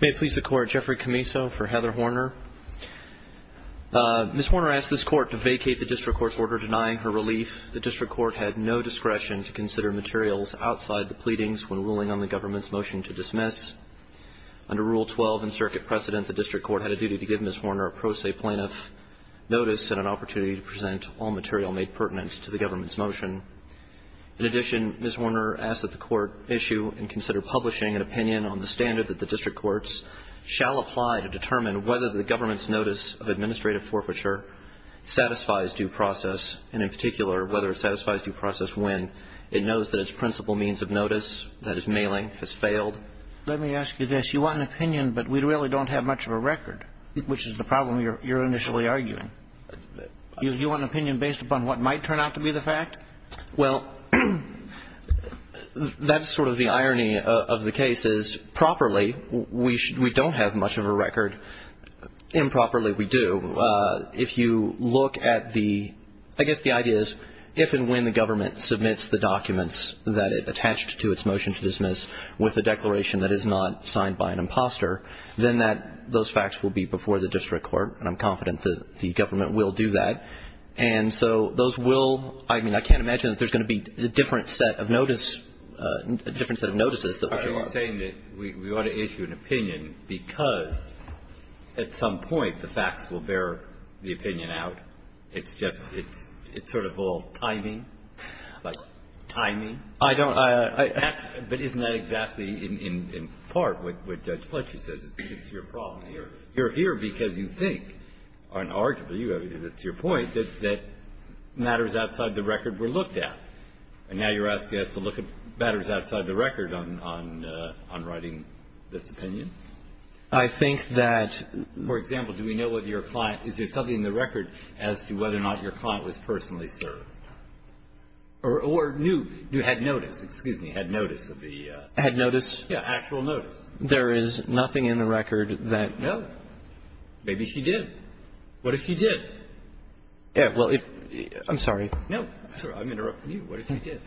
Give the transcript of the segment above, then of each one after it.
May it please the Court, Jeffrey Camiso for Heather Horner. Ms. Horner asked this Court to vacate the district court's order denying her relief. The district court had no discretion to consider materials outside the pleadings when ruling on the government's motion to dismiss. Under Rule 12 in Circuit Precedent, the district court had a duty to give Ms. Horner a pro se plaintiff notice and an opportunity to present all material made pertinent to the government's motion. In addition, Ms. Horner asked that the Court issue and consider publishing an opinion on the standard that the district courts shall apply to determine whether the government's notice of administrative forfeiture satisfies due process, and in particular whether it satisfies due process when it knows that its principal means of notice, that is mailing, has failed. Let me ask you this. You want an opinion, but we really don't have much of a record, which is the problem you're initially arguing. You want an opinion based upon what might turn out to be the fact? Well, that's sort of the irony of the case is, properly, we don't have much of a record. Improperly, we do. If you look at the, I guess the idea is, if and when the government submits the documents that it attached to its motion to dismiss with a declaration that is not signed by an imposter, then those facts will be before the district court, and I'm confident that the government will do that. And so those will, I mean, I can't imagine that there's going to be a different set of notice, a different set of notices. Are you saying that we ought to issue an opinion because at some point the facts will bear the opinion out? It's just, it's sort of all timing? It's like timing? I don't. But isn't that exactly in part what Judge Fletcher says? It's your problem. You're here because you think, and arguably, that's your point, that matters outside the record were looked at. And now you're asking us to look at matters outside the record on writing this opinion? I think that... For example, do we know whether your client, is there something in the record as to whether or not your client was personally served? Or knew, had notice, excuse me, had notice of the... Had notice? Yes, actual notice. There is nothing in the record that... No. Maybe she did. What if she did? Well, I'm sorry. No. I'm interrupting you. What if she did?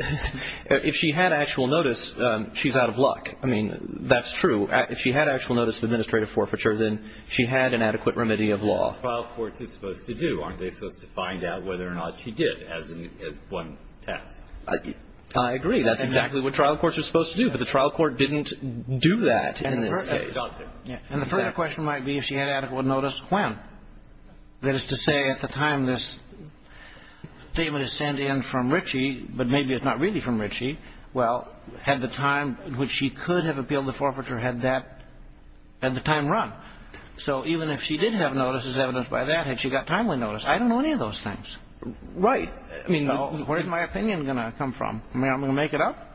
If she had actual notice, she's out of luck. I mean, that's true. If she had actual notice of administrative forfeiture, then she had an adequate remedy of law. That's what a trial court is supposed to do. Aren't they supposed to find out whether or not she did as one test? I agree. That's exactly what trial courts are supposed to do. But the trial court didn't do that in this case. And the further question might be if she had adequate notice when. That is to say, at the time this statement is sent in from Ritchie, but maybe it's not really from Ritchie, well, had the time in which she could have appealed the forfeiture had that, had the time run. So even if she did have notice as evidenced by that, had she got timely notice, I don't know any of those things. Right. I mean, where's my opinion going to come from? Am I going to make it up?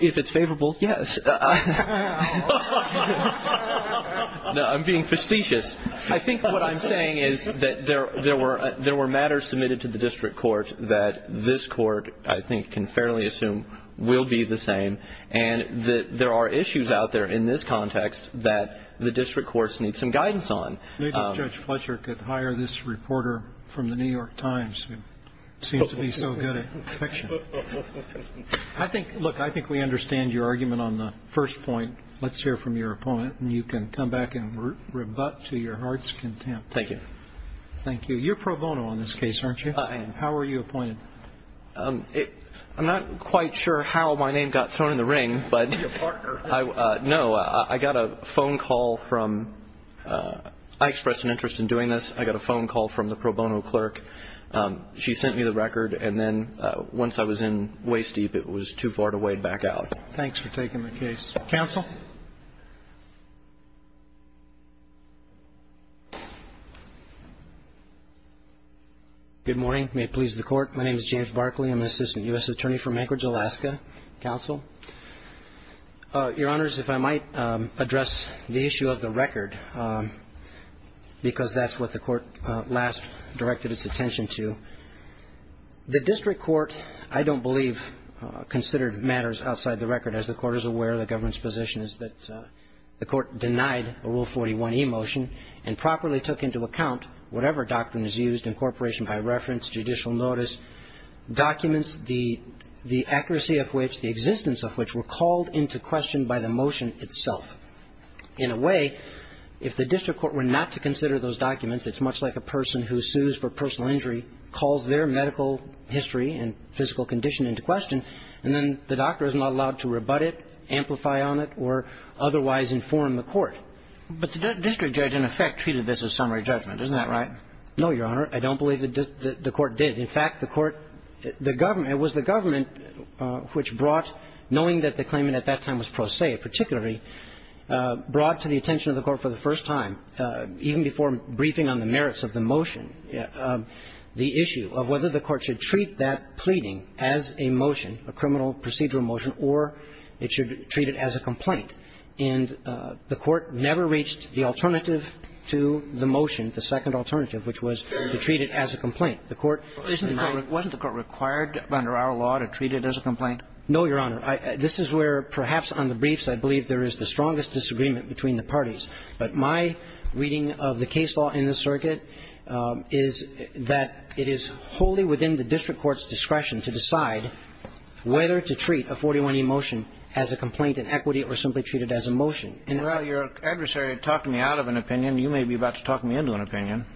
If it's favorable, yes. I'm being facetious. I think what I'm saying is that there were matters submitted to the district court that this court, I think, can fairly assume will be the same. And there are issues out there in this context that the district courts need some guidance on. Maybe Judge Fletcher could hire this reporter from the New York Times who seems to be so good at fiction. I think, look, I think we understand your argument on the first point. Let's hear from your opponent. And you can come back and rebut to your heart's content. Thank you. Thank you. You're pro bono on this case, aren't you? I am. How were you appointed? I'm not quite sure how my name got thrown in the ring. Your partner. No. I got a phone call from, I expressed an interest in doing this. I got a phone call from the pro bono clerk. She sent me the record. And then once I was in waist deep, it was too far to wade back out. Thanks for taking the case. Counsel? Good morning. May it please the Court. My name is James Barkley. I'm an assistant U.S. attorney from Anchorage, Alaska. Counsel? Your Honors, if I might address the issue of the record, because that's what the Court last directed its attention to. The district court, I don't believe, considered matters outside the record. As the Court is aware, the government's position is that the Court denied a Rule 41e motion and properly took into account whatever doctrine is used, incorporation by reference, judicial notice, documents, the accuracy of which, the existence of which were called into question by the motion itself. In a way, if the district court were not to consider those documents, it's much like a person who sues for personal injury, calls their medical history and physical condition into question, and then the doctor is not allowed to rebut it, amplify on it, or otherwise inform the court. But the district judge, in effect, treated this as summary judgment. Isn't that right? No, Your Honor. I don't believe the court did. In fact, the court, the government, it was the government which brought, knowing that the claimant at that time was prosaic particularly, brought to the attention of the court for the first time, even before briefing on the merits of the motion, the issue of whether the court should treat that pleading as a motion, a criminal procedural motion, or it should treat it as a complaint. And the court never reached the alternative to the motion, the second alternative, which was to treat it as a complaint. The court denied it. Wasn't the court required under our law to treat it as a complaint? No, Your Honor. This is where, perhaps on the briefs, I believe there is the strongest disagreement between the parties. But my reading of the case law in this circuit is that it is wholly within the district court's discretion to decide whether to treat a 41e motion as a complaint in equity or simply treat it as a motion. Well, your adversary talked me out of an opinion. You may be about to talk me into an opinion.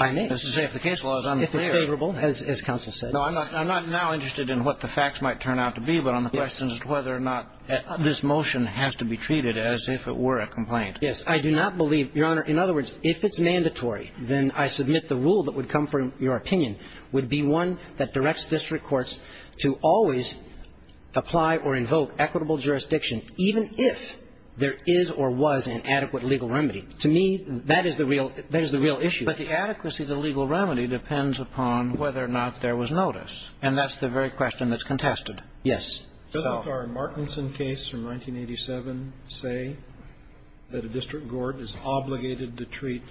I may. That's to say, if the case law is unclear. If it's favorable, as counsel said. No, I'm not now interested in what the facts might turn out to be, but on the question as to whether or not this motion has to be treated as if it were a complaint. Yes. I do not believe, Your Honor. In other words, if it's mandatory, then I submit the rule that would come from your opinion would be one that directs district courts to always apply or invoke equitable jurisdiction, even if there is or was an adequate legal remedy. To me, that is the real issue. But the adequacy of the legal remedy depends upon whether or not there was notice. And that's the very question that's contested. Yes. Doesn't our Martinson case from 1987 say that a district court is obligated to treat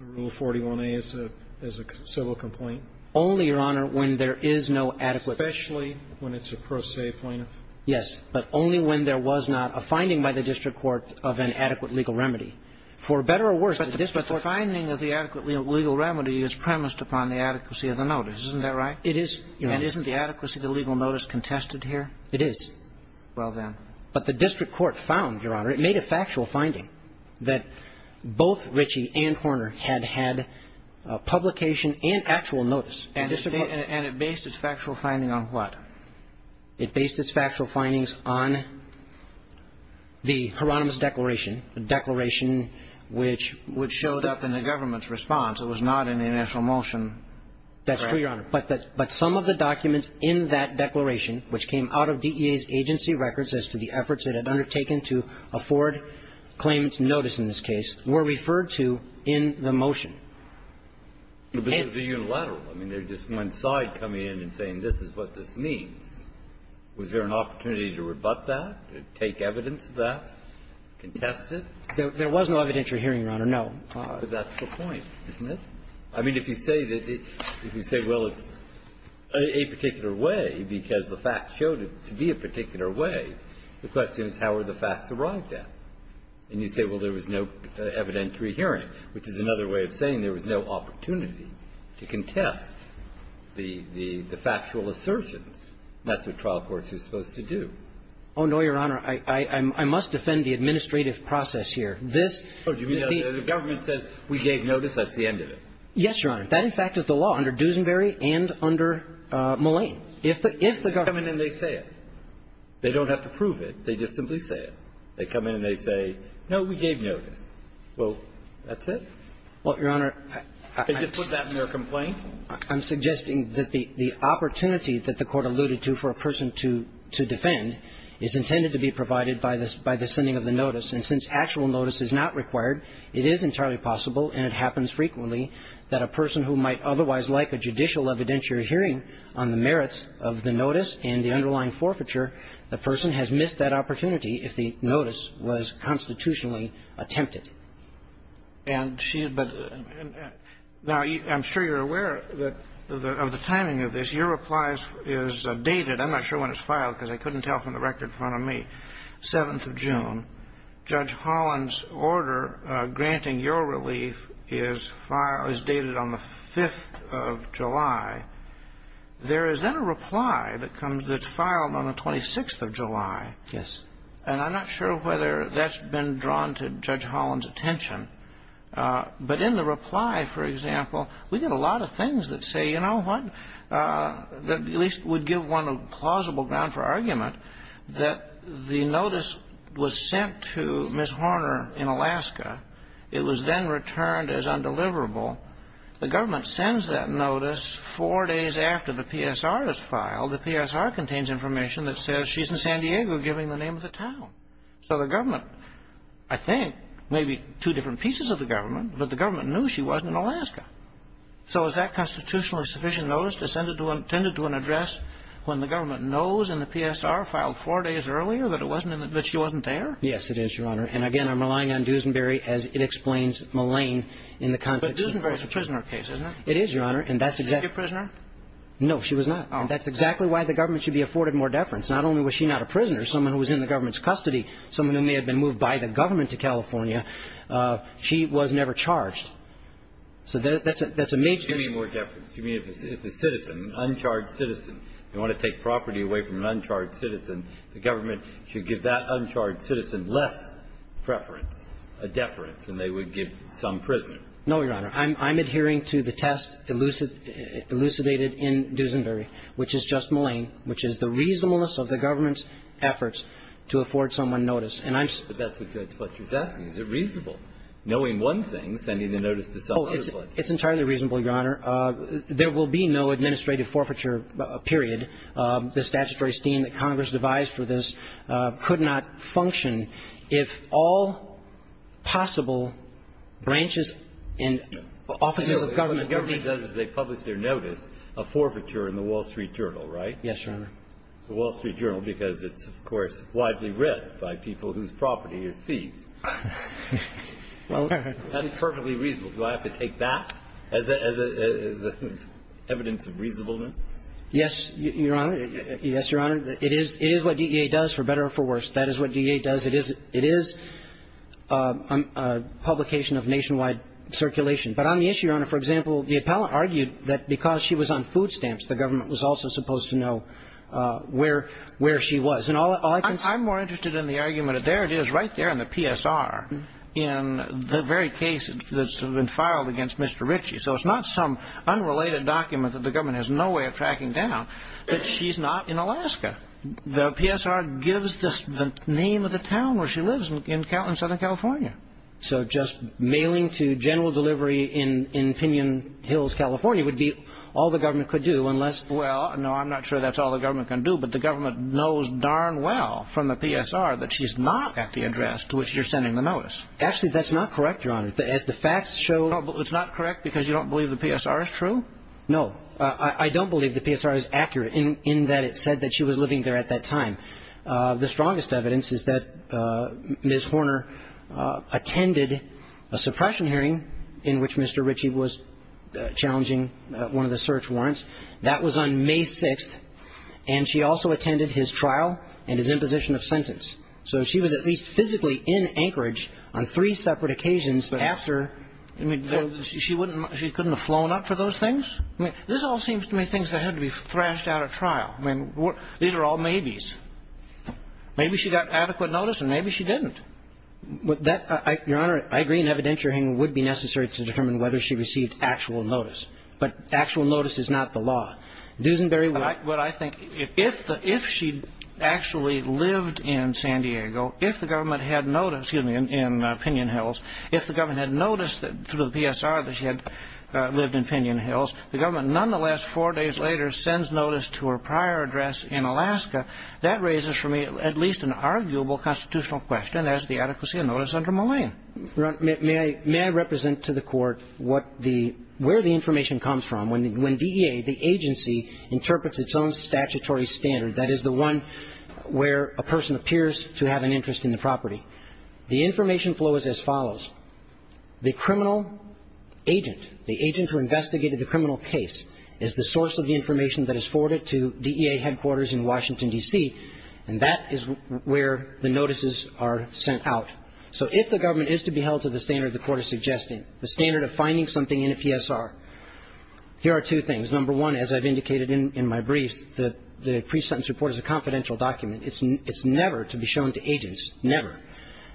Rule 41a as a civil complaint? Only, Your Honor, when there is no adequate. Especially when it's a pro se plaintiff. Yes. But only when there was not a finding by the district court of an adequate legal remedy. For better or worse, the district court But the finding of the adequate legal remedy is premised upon the adequacy of the notice. Isn't that right? It is, Your Honor. And isn't the adequacy of the legal notice contested here? It is. Well, then. But the district court found, Your Honor, it made a factual finding that both Ritchie and Horner had had publication and actual notice. And it based its factual finding on what? It based its factual findings on the Hieronymus Declaration, the declaration which would show up in the government's response. It was not in the initial motion. That's true, Your Honor. But some of the documents in that declaration, which came out of DEA's agency records as to the efforts it had undertaken to afford claimants notice in this case, were referred to in the motion. But this is a unilateral. I mean, there's just one side coming in and saying this is what this means. Was there an opportunity to rebut that, to take evidence of that, contest it? There was no evidentiary hearing, Your Honor, no. But that's the point, isn't it? I mean, if you say that you say, well, it's a particular way because the facts showed it to be a particular way, the question is how were the facts arrived at. And you say, well, there was no evidentiary hearing, which is another way of saying there was no opportunity to contest the factual assertions. That's what trial courts are supposed to do. Oh, no, Your Honor. I must defend the administrative process here. This the ---- Oh, you mean the government says we gave notice, that's the end of it? Yes, Your Honor. That, in fact, is the law under Duesenberry and under Mullane. If the government ---- They come in and they say it. They don't have to prove it. They just simply say it. They come in and they say, no, we gave notice. Well, that's it. Well, Your Honor, I ---- Could you put that in your complaint? I'm suggesting that the opportunity that the Court alluded to for a person to defend is intended to be provided by the sending of the notice, and since actual notice is not required, it is entirely possible and it happens frequently that a person who might otherwise like a judicial evidentiary hearing on the merits of the notice and the underlying forfeiture, the person has missed that opportunity if the notice was constitutionally attempted. And she had been ---- Now, I'm sure you're aware of the timing of this. Your reply is dated. I'm not sure when it's filed because I couldn't tell from the record in front of me. 7th of June. Judge Holland's order granting your relief is filed ---- is dated on the 5th of July. There is then a reply that comes that's filed on the 26th of July. Yes. And I'm not sure whether that's been drawn to Judge Holland's attention, but in the reply, for example, we get a lot of things that say, you know what, that at least would give one a plausible ground for argument, that the notice was sent to Ms. Horner in Alaska. It was then returned as undeliverable. The government sends that notice four days after the PSR is filed. The PSR contains information that says she's in San Diego giving the name of the town. So the government, I think, may be two different pieces of the government, but the government knew she wasn't in Alaska. So is that constitutionally sufficient notice to send it to an address when the government knows in the PSR filed four days earlier that she wasn't there? Yes, it is, Your Honor. And, again, I'm relying on Duesenberry as it explains Millane in the context of ---- But Duesenberry's a prisoner case, isn't it? It is, Your Honor, and that's exactly ---- Is she a prisoner? No, she was not. And that's exactly why the government should be afforded more deference. Not only was she not a prisoner, someone who was in the government's custody, someone who may have been moved by the government to California, she was never charged. So that's a major ---- You mean more deference. You mean if a citizen, an uncharged citizen, you want to take property away from an uncharged citizen, the government should give that uncharged citizen less preference, a deference, than they would give some prisoner. No, Your Honor. I'm adhering to the test elucidated in Duesenberry, which is just Millane, which is the reasonableness of the government's efforts to afford someone notice. And I'm just ---- But that's what you're asking. Is it reasonable, knowing one thing, sending the notice to some other place? Oh, it's entirely reasonable, Your Honor. There will be no administrative forfeiture, period. The statutory scheme that Congress devised for this could not function if all possible branches and offices of government would be ---- So what the government does is they publish their notice, a forfeiture, in the Wall Street Journal, right? Yes, Your Honor. The Wall Street Journal, because it's, of course, widely read by people whose property is seized. Well ---- That is perfectly reasonable. Do I have to take that as evidence of reasonableness? Yes, Your Honor. Yes, Your Honor. It is what DEA does, for better or for worse. That is what DEA does. It is a publication of nationwide circulation. But on the issue, Your Honor, for example, the appellant argued that because she was on food stamps, the government was also supposed to know where she was. And all I can say ---- I'm more interested in the argument that there it is right there in the PSR, in the very case that's been filed against Mr. Ritchie. So it's not some unrelated document that the government has no way of tracking down, that she's not in Alaska. The PSR gives the name of the town where she lives in Southern California. So just mailing to general delivery in Pinion Hills, California, would be all the government could do, unless ---- Well, no, I'm not sure that's all the government can do. But the government knows darn well from the PSR that she's not at the address to which you're sending the notice. Actually, that's not correct, Your Honor. As the facts show ---- It's not correct because you don't believe the PSR is true? No. I don't believe the PSR is accurate in that it said that she was living there at that time. The strongest evidence is that Ms. Horner attended a suppression hearing in which Mr. Ritchie was challenging one of the search warrants. That was on May 6th. And she also attended his trial and his imposition of sentence. So she was at least physically in Anchorage on three separate occasions after ---- But, I mean, she wouldn't ---- She couldn't have flown up for those things? I mean, this all seems to me things that had to be thrashed out at trial. I mean, these are all maybes. Maybe she got adequate notice and maybe she didn't. That ---- Your Honor, I agree an evidentiary hearing would be necessary to determine whether she received actual notice. But actual notice is not the law. Duesenberry would ---- But I think if the ---- if she actually lived in San Diego, if the government had noticed ---- excuse me ---- in Pinion Hills, if the government had noticed through the PSR that she had lived in Pinion Hills, the government nonetheless, four days later, sends notice to her prior address in Alaska, that raises for me at least an arguable constitutional question as to the adequacy of notice under Malayan. Your Honor, may I represent to the Court what the ---- where the information comes from when DEA, the agency, interprets its own statutory standard, that is, the one where a person appears to have an interest in the property. The information flow is as follows. The criminal agent, the agent who investigated the criminal case, is the source of the information that is forwarded to DEA headquarters in Washington, D.C. And that is where the notices are sent out. So if the government is to be held to the standard the Court is suggesting, the standard of finding something in a PSR, here are two things. Number one, as I've indicated in my briefs, the pre-sentence report is a confidential document. It's never to be shown to agents, never.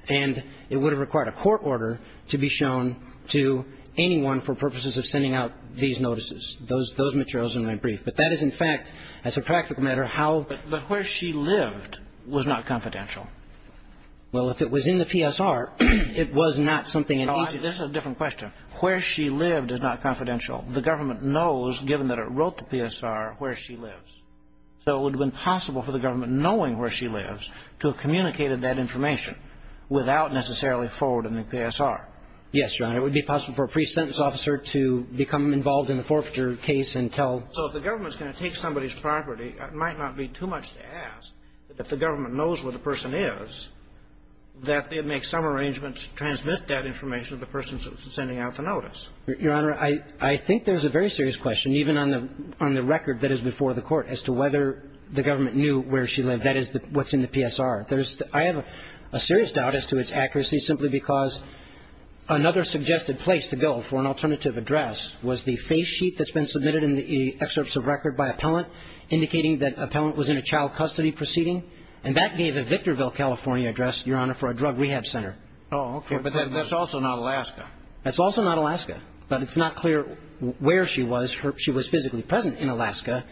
And it would have required a court order to be shown to anyone for purposes of sending out these notices, those materials in my brief. But that is, in fact, as a practical matter, how ---- But where she lived was not confidential. Well, if it was in the PSR, it was not something an agent ---- No, this is a different question. Where she lived is not confidential. The government knows, given that it wrote the PSR, where she lives. So it would have been possible for the government knowing where she lives to have sent that information without necessarily forwarding the PSR. Yes, Your Honor. It would be possible for a pre-sentence officer to become involved in the forfeiture case and tell ---- So if the government is going to take somebody's property, it might not be too much to ask that if the government knows where the person is, that it makes some arrangements to transmit that information to the person sending out the notice. Your Honor, I think there's a very serious question, even on the record that is before the Court, as to whether the government knew where she lived. That is what's in the PSR. There's the ---- I have a serious doubt as to its accuracy simply because another suggested place to go for an alternative address was the face sheet that's been submitted in the excerpts of record by appellant indicating that appellant was in a child custody proceeding, and that gave a Victorville, California address, Your Honor, for a drug rehab center. Oh, okay. But that's also not Alaska. That's also not Alaska. But it's not clear where she was. She was physically present in Alaska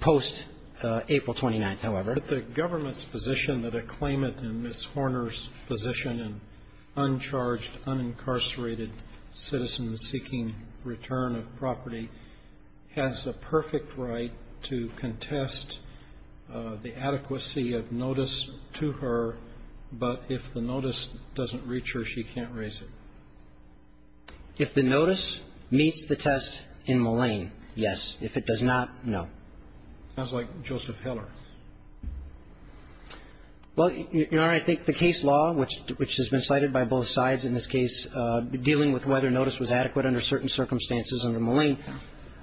post-April 29th, however. But the government's position that a claimant in Ms. Horner's position, an uncharged, unincarcerated citizen seeking return of property, has a perfect right to contest the adequacy of notice to her, but if the notice doesn't reach her, she can't raise it. If the notice meets the test in Mullane, yes. If it does not, no. Sounds like Joseph Heller. Well, Your Honor, I think the case law, which has been cited by both sides in this case dealing with whether notice was adequate under certain circumstances under Mullane,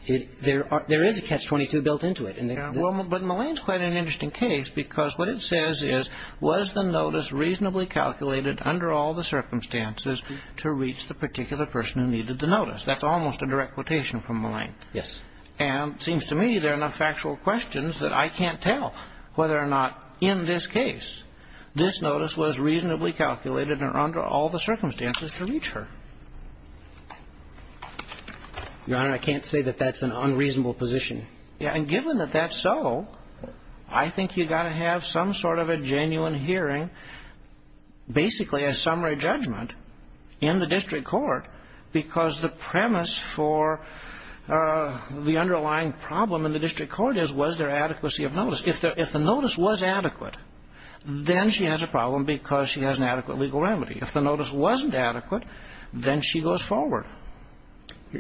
there is a catch-22 built into it. Well, but Mullane's quite an interesting case because what it says is, was the notice reasonably calculated under all the circumstances to reach the particular person who needed the notice? That's almost a direct quotation from Mullane. Yes. And it seems to me there are enough factual questions that I can't tell whether or not in this case this notice was reasonably calculated under all the circumstances to reach her. Your Honor, I can't say that that's an unreasonable position. And given that that's so, I think you've got to have some sort of a genuine hearing, basically a summary judgment in the district court, because the premise for the underlying problem in the district court is was there adequacy of notice. If the notice was adequate, then she has a problem because she has an adequate legal remedy. If the notice wasn't adequate, then she goes forward.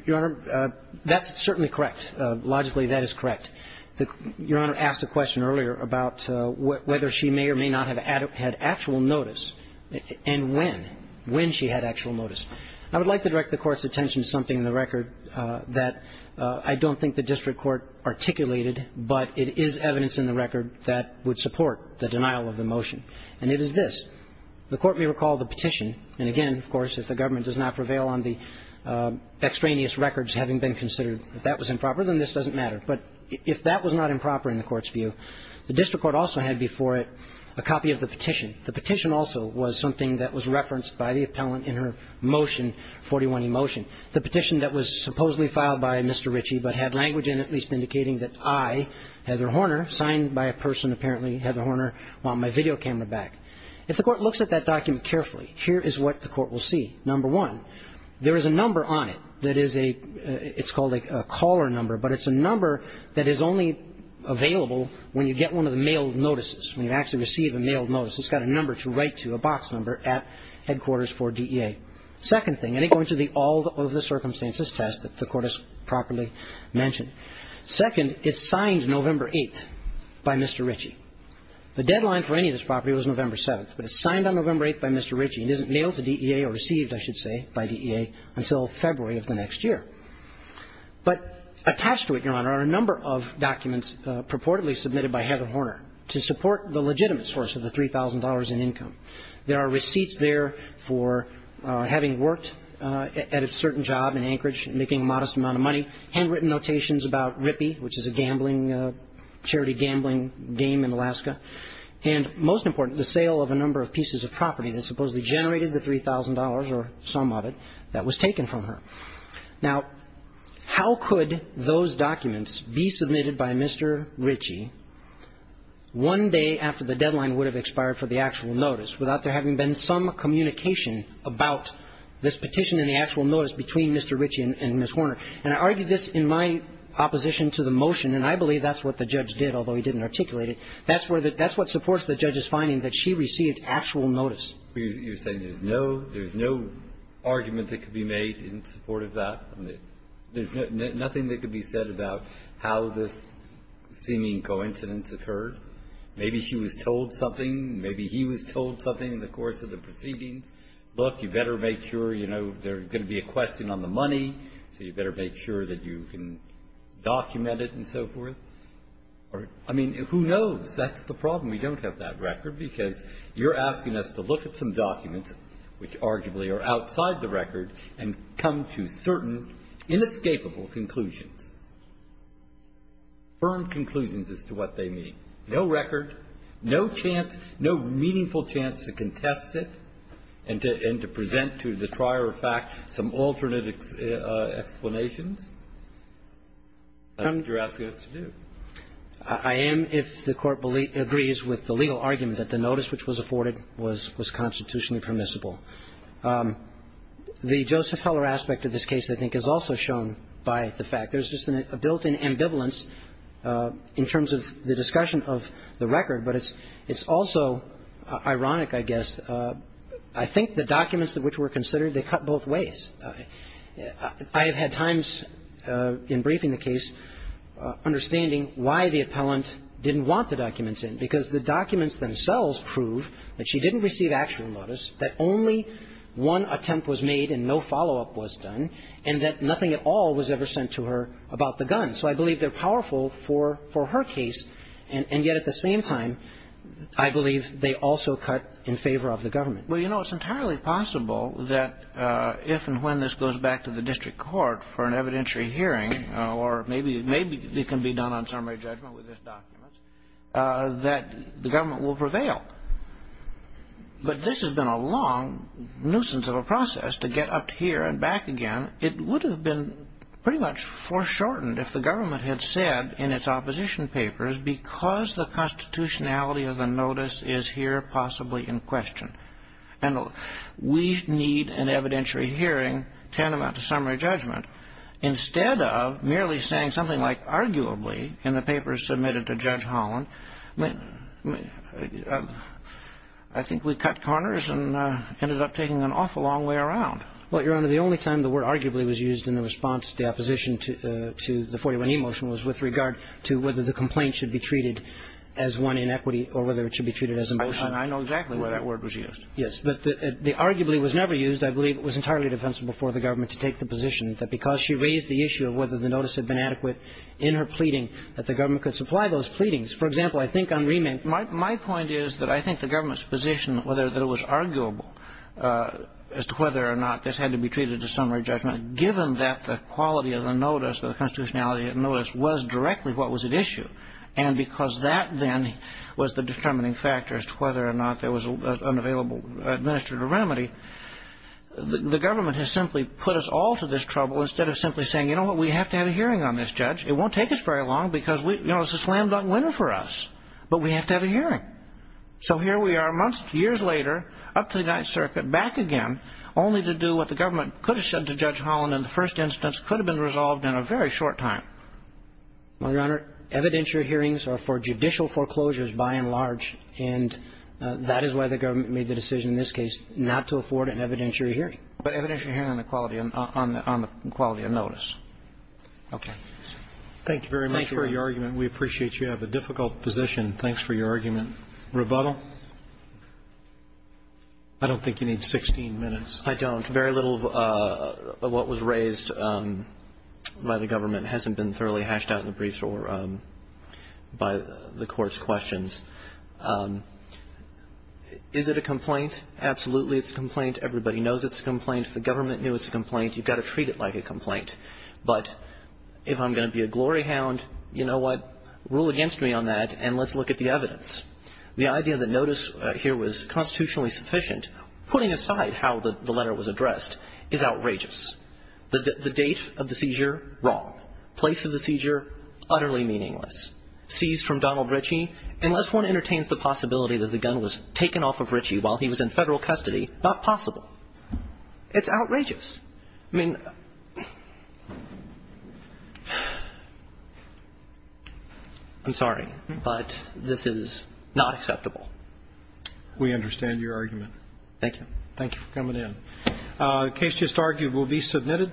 Your Honor, that's certainly correct. Logically, that is correct. Your Honor asked a question earlier about whether she may or may not have had actual notice and when, when she had actual notice. I would like to direct the Court's attention to something in the record that I don't think the district court articulated, but it is evidence in the record that would support the denial of the motion. And it is this. The Court may recall the petition, and again, of course, if the government does not prevail on the extraneous records having been considered, if that was improper, then this doesn't matter. But if that was not improper in the Court's view, the district court also had before it a copy of the petition. The petition also was something that was referenced by the appellant in her motion, 41E motion, the petition that was supposedly filed by Mr. Ritchie but had language in it at least indicating that I, Heather Horner, signed by a person, apparently Heather Horner, want my video camera back. If the Court looks at that document carefully, here is what the Court will see. Number one, there is a number on it that is a – it's called a caller number, but it's a number that is only available when you get one of the mailed notices, when you actually receive a mailed notice. It's got a number to write to, a box number, at headquarters for DEA. Second thing, and I go into the all of the circumstances test that the Court has properly mentioned. Second, it's signed November 8th by Mr. Ritchie. The deadline for any of this property was November 7th, but it's signed on November 8th by Mr. Ritchie and isn't mailed to DEA or received, I should say, by DEA until February of the next year. But attached to it, Your Honor, are a number of documents purportedly submitted by Heather Horner to support the legitimate source of the $3,000 in income. There are receipts there for having worked at a certain job in Anchorage, making a modest amount of money, handwritten notations about RIPI, which is a gambling – charity gambling game in Alaska, and most important, the sale of a number of pieces of property that supposedly generated the $3,000 or some of it that was taken from her. Now, how could those documents be submitted by Mr. Ritchie one day after the deadline would have expired for the actual notice without there having been some communication about this petition and the actual notice between Mr. Ritchie and Ms. Horner? And I argue this in my opposition to the motion, and I believe that's what the judge did, although he didn't articulate it. That's where the – that's what supports the judge's finding that she received actual notice. You're saying there's no – there's no argument that could be made in support of that? There's nothing that could be said about how this seeming coincidence occurred? Maybe she was told something, maybe he was told something in the course of the proceedings. Look, you better make sure, you know, there's going to be a question on the money, so you better make sure that you can document it and so forth. I mean, who knows? That's the problem. We don't have that record, because you're asking us to look at some documents which arguably are outside the record and come to certain inescapable conclusions, firm conclusions as to what they mean. No record, no chance, no meaningful chance to contest it and to – and to present to the trier of fact some alternate explanations. That's what you're asking us to do. I am, if the Court agrees with the legal argument that the notice which was afforded was constitutionally permissible. The Joseph Heller aspect of this case, I think, is also shown by the fact there's just a built-in ambivalence in terms of the discussion of the record, but it's also ironic, I guess. I think the documents of which were considered, they cut both ways. I have had times in briefing the case understanding why the appellant didn't want the documents in, because the documents themselves prove that she didn't receive actual notice, that only one attempt was made and no follow-up was done, and that nothing at all was ever sent to her about the guns. So I believe they're powerful for her case, and yet at the same time, I believe they also cut in favor of the government. Well, you know, it's entirely possible that if and when this goes back to the district court for an evidentiary hearing, or maybe it can be done on summary judgment with this document, that the government will prevail. But this has been a long nuisance of a process to get up to here and back again. It would have been pretty much foreshortened if the government had said in its opposition papers, because the constitutionality of the notice is here possibly in question. And we need an evidentiary hearing tantamount to summary judgment. Instead of merely saying something like arguably in the papers submitted to Judge Holland, I think we cut corners and ended up taking an awful long way around. Well, Your Honor, the only time the word arguably was used in the response to the opposition to the 41e motion was with regard to whether the complaint should be treated as one in equity or whether it should be treated as a motion. I know exactly where that word was used. Yes. But the arguably was never used. I believe it was entirely defensible for the government to take the position that because she raised the issue of whether the notice had been adequate in her pleading, that the government could supply those pleadings. For example, I think on remand ---- My point is that I think the government's position, whether it was arguable as to whether or not this had to be treated as summary judgment, given that the quality of the notice or the constitutionality of the notice was directly what was at issue, and because that then was the determining factor as to whether or not there was an available, administered remedy, the government has simply put us all to this trouble instead of simply saying, you know what, we have to have a hearing on this judge. It won't take us very long because it's a slam-dunk win for us, but we have to have a hearing. So here we are months, years later, up to the United Circuit, back again, only to do what the government could have said to Judge Holland in the first instance could have been resolved in a very short time. My Honor, evidentiary hearings are for judicial foreclosures by and large, and that is why the government made the decision in this case not to afford an evidentiary hearing. But evidentiary hearing on the quality of notice. Okay. Thank you very much for your argument. We appreciate you. You have a difficult position. Thanks for your argument. Rebuttal? I don't think you need 16 minutes. I don't. I think very little of what was raised by the government hasn't been thoroughly hashed out in the briefs or by the Court's questions. Is it a complaint? Absolutely it's a complaint. Everybody knows it's a complaint. The government knew it's a complaint. You've got to treat it like a complaint. But if I'm going to be a glory hound, you know what, rule against me on that and let's look at the evidence. The idea that notice here was constitutionally sufficient, putting aside how the government expressed, is outrageous. The date of the seizure, wrong. Place of the seizure, utterly meaningless. Seized from Donald Ritchie, unless one entertains the possibility that the gun was taken off of Ritchie while he was in Federal custody, not possible. It's outrageous. I mean, I'm sorry, but this is not acceptable. We understand your argument. Thank you. Thank you for coming in. The case just argued will be submitted.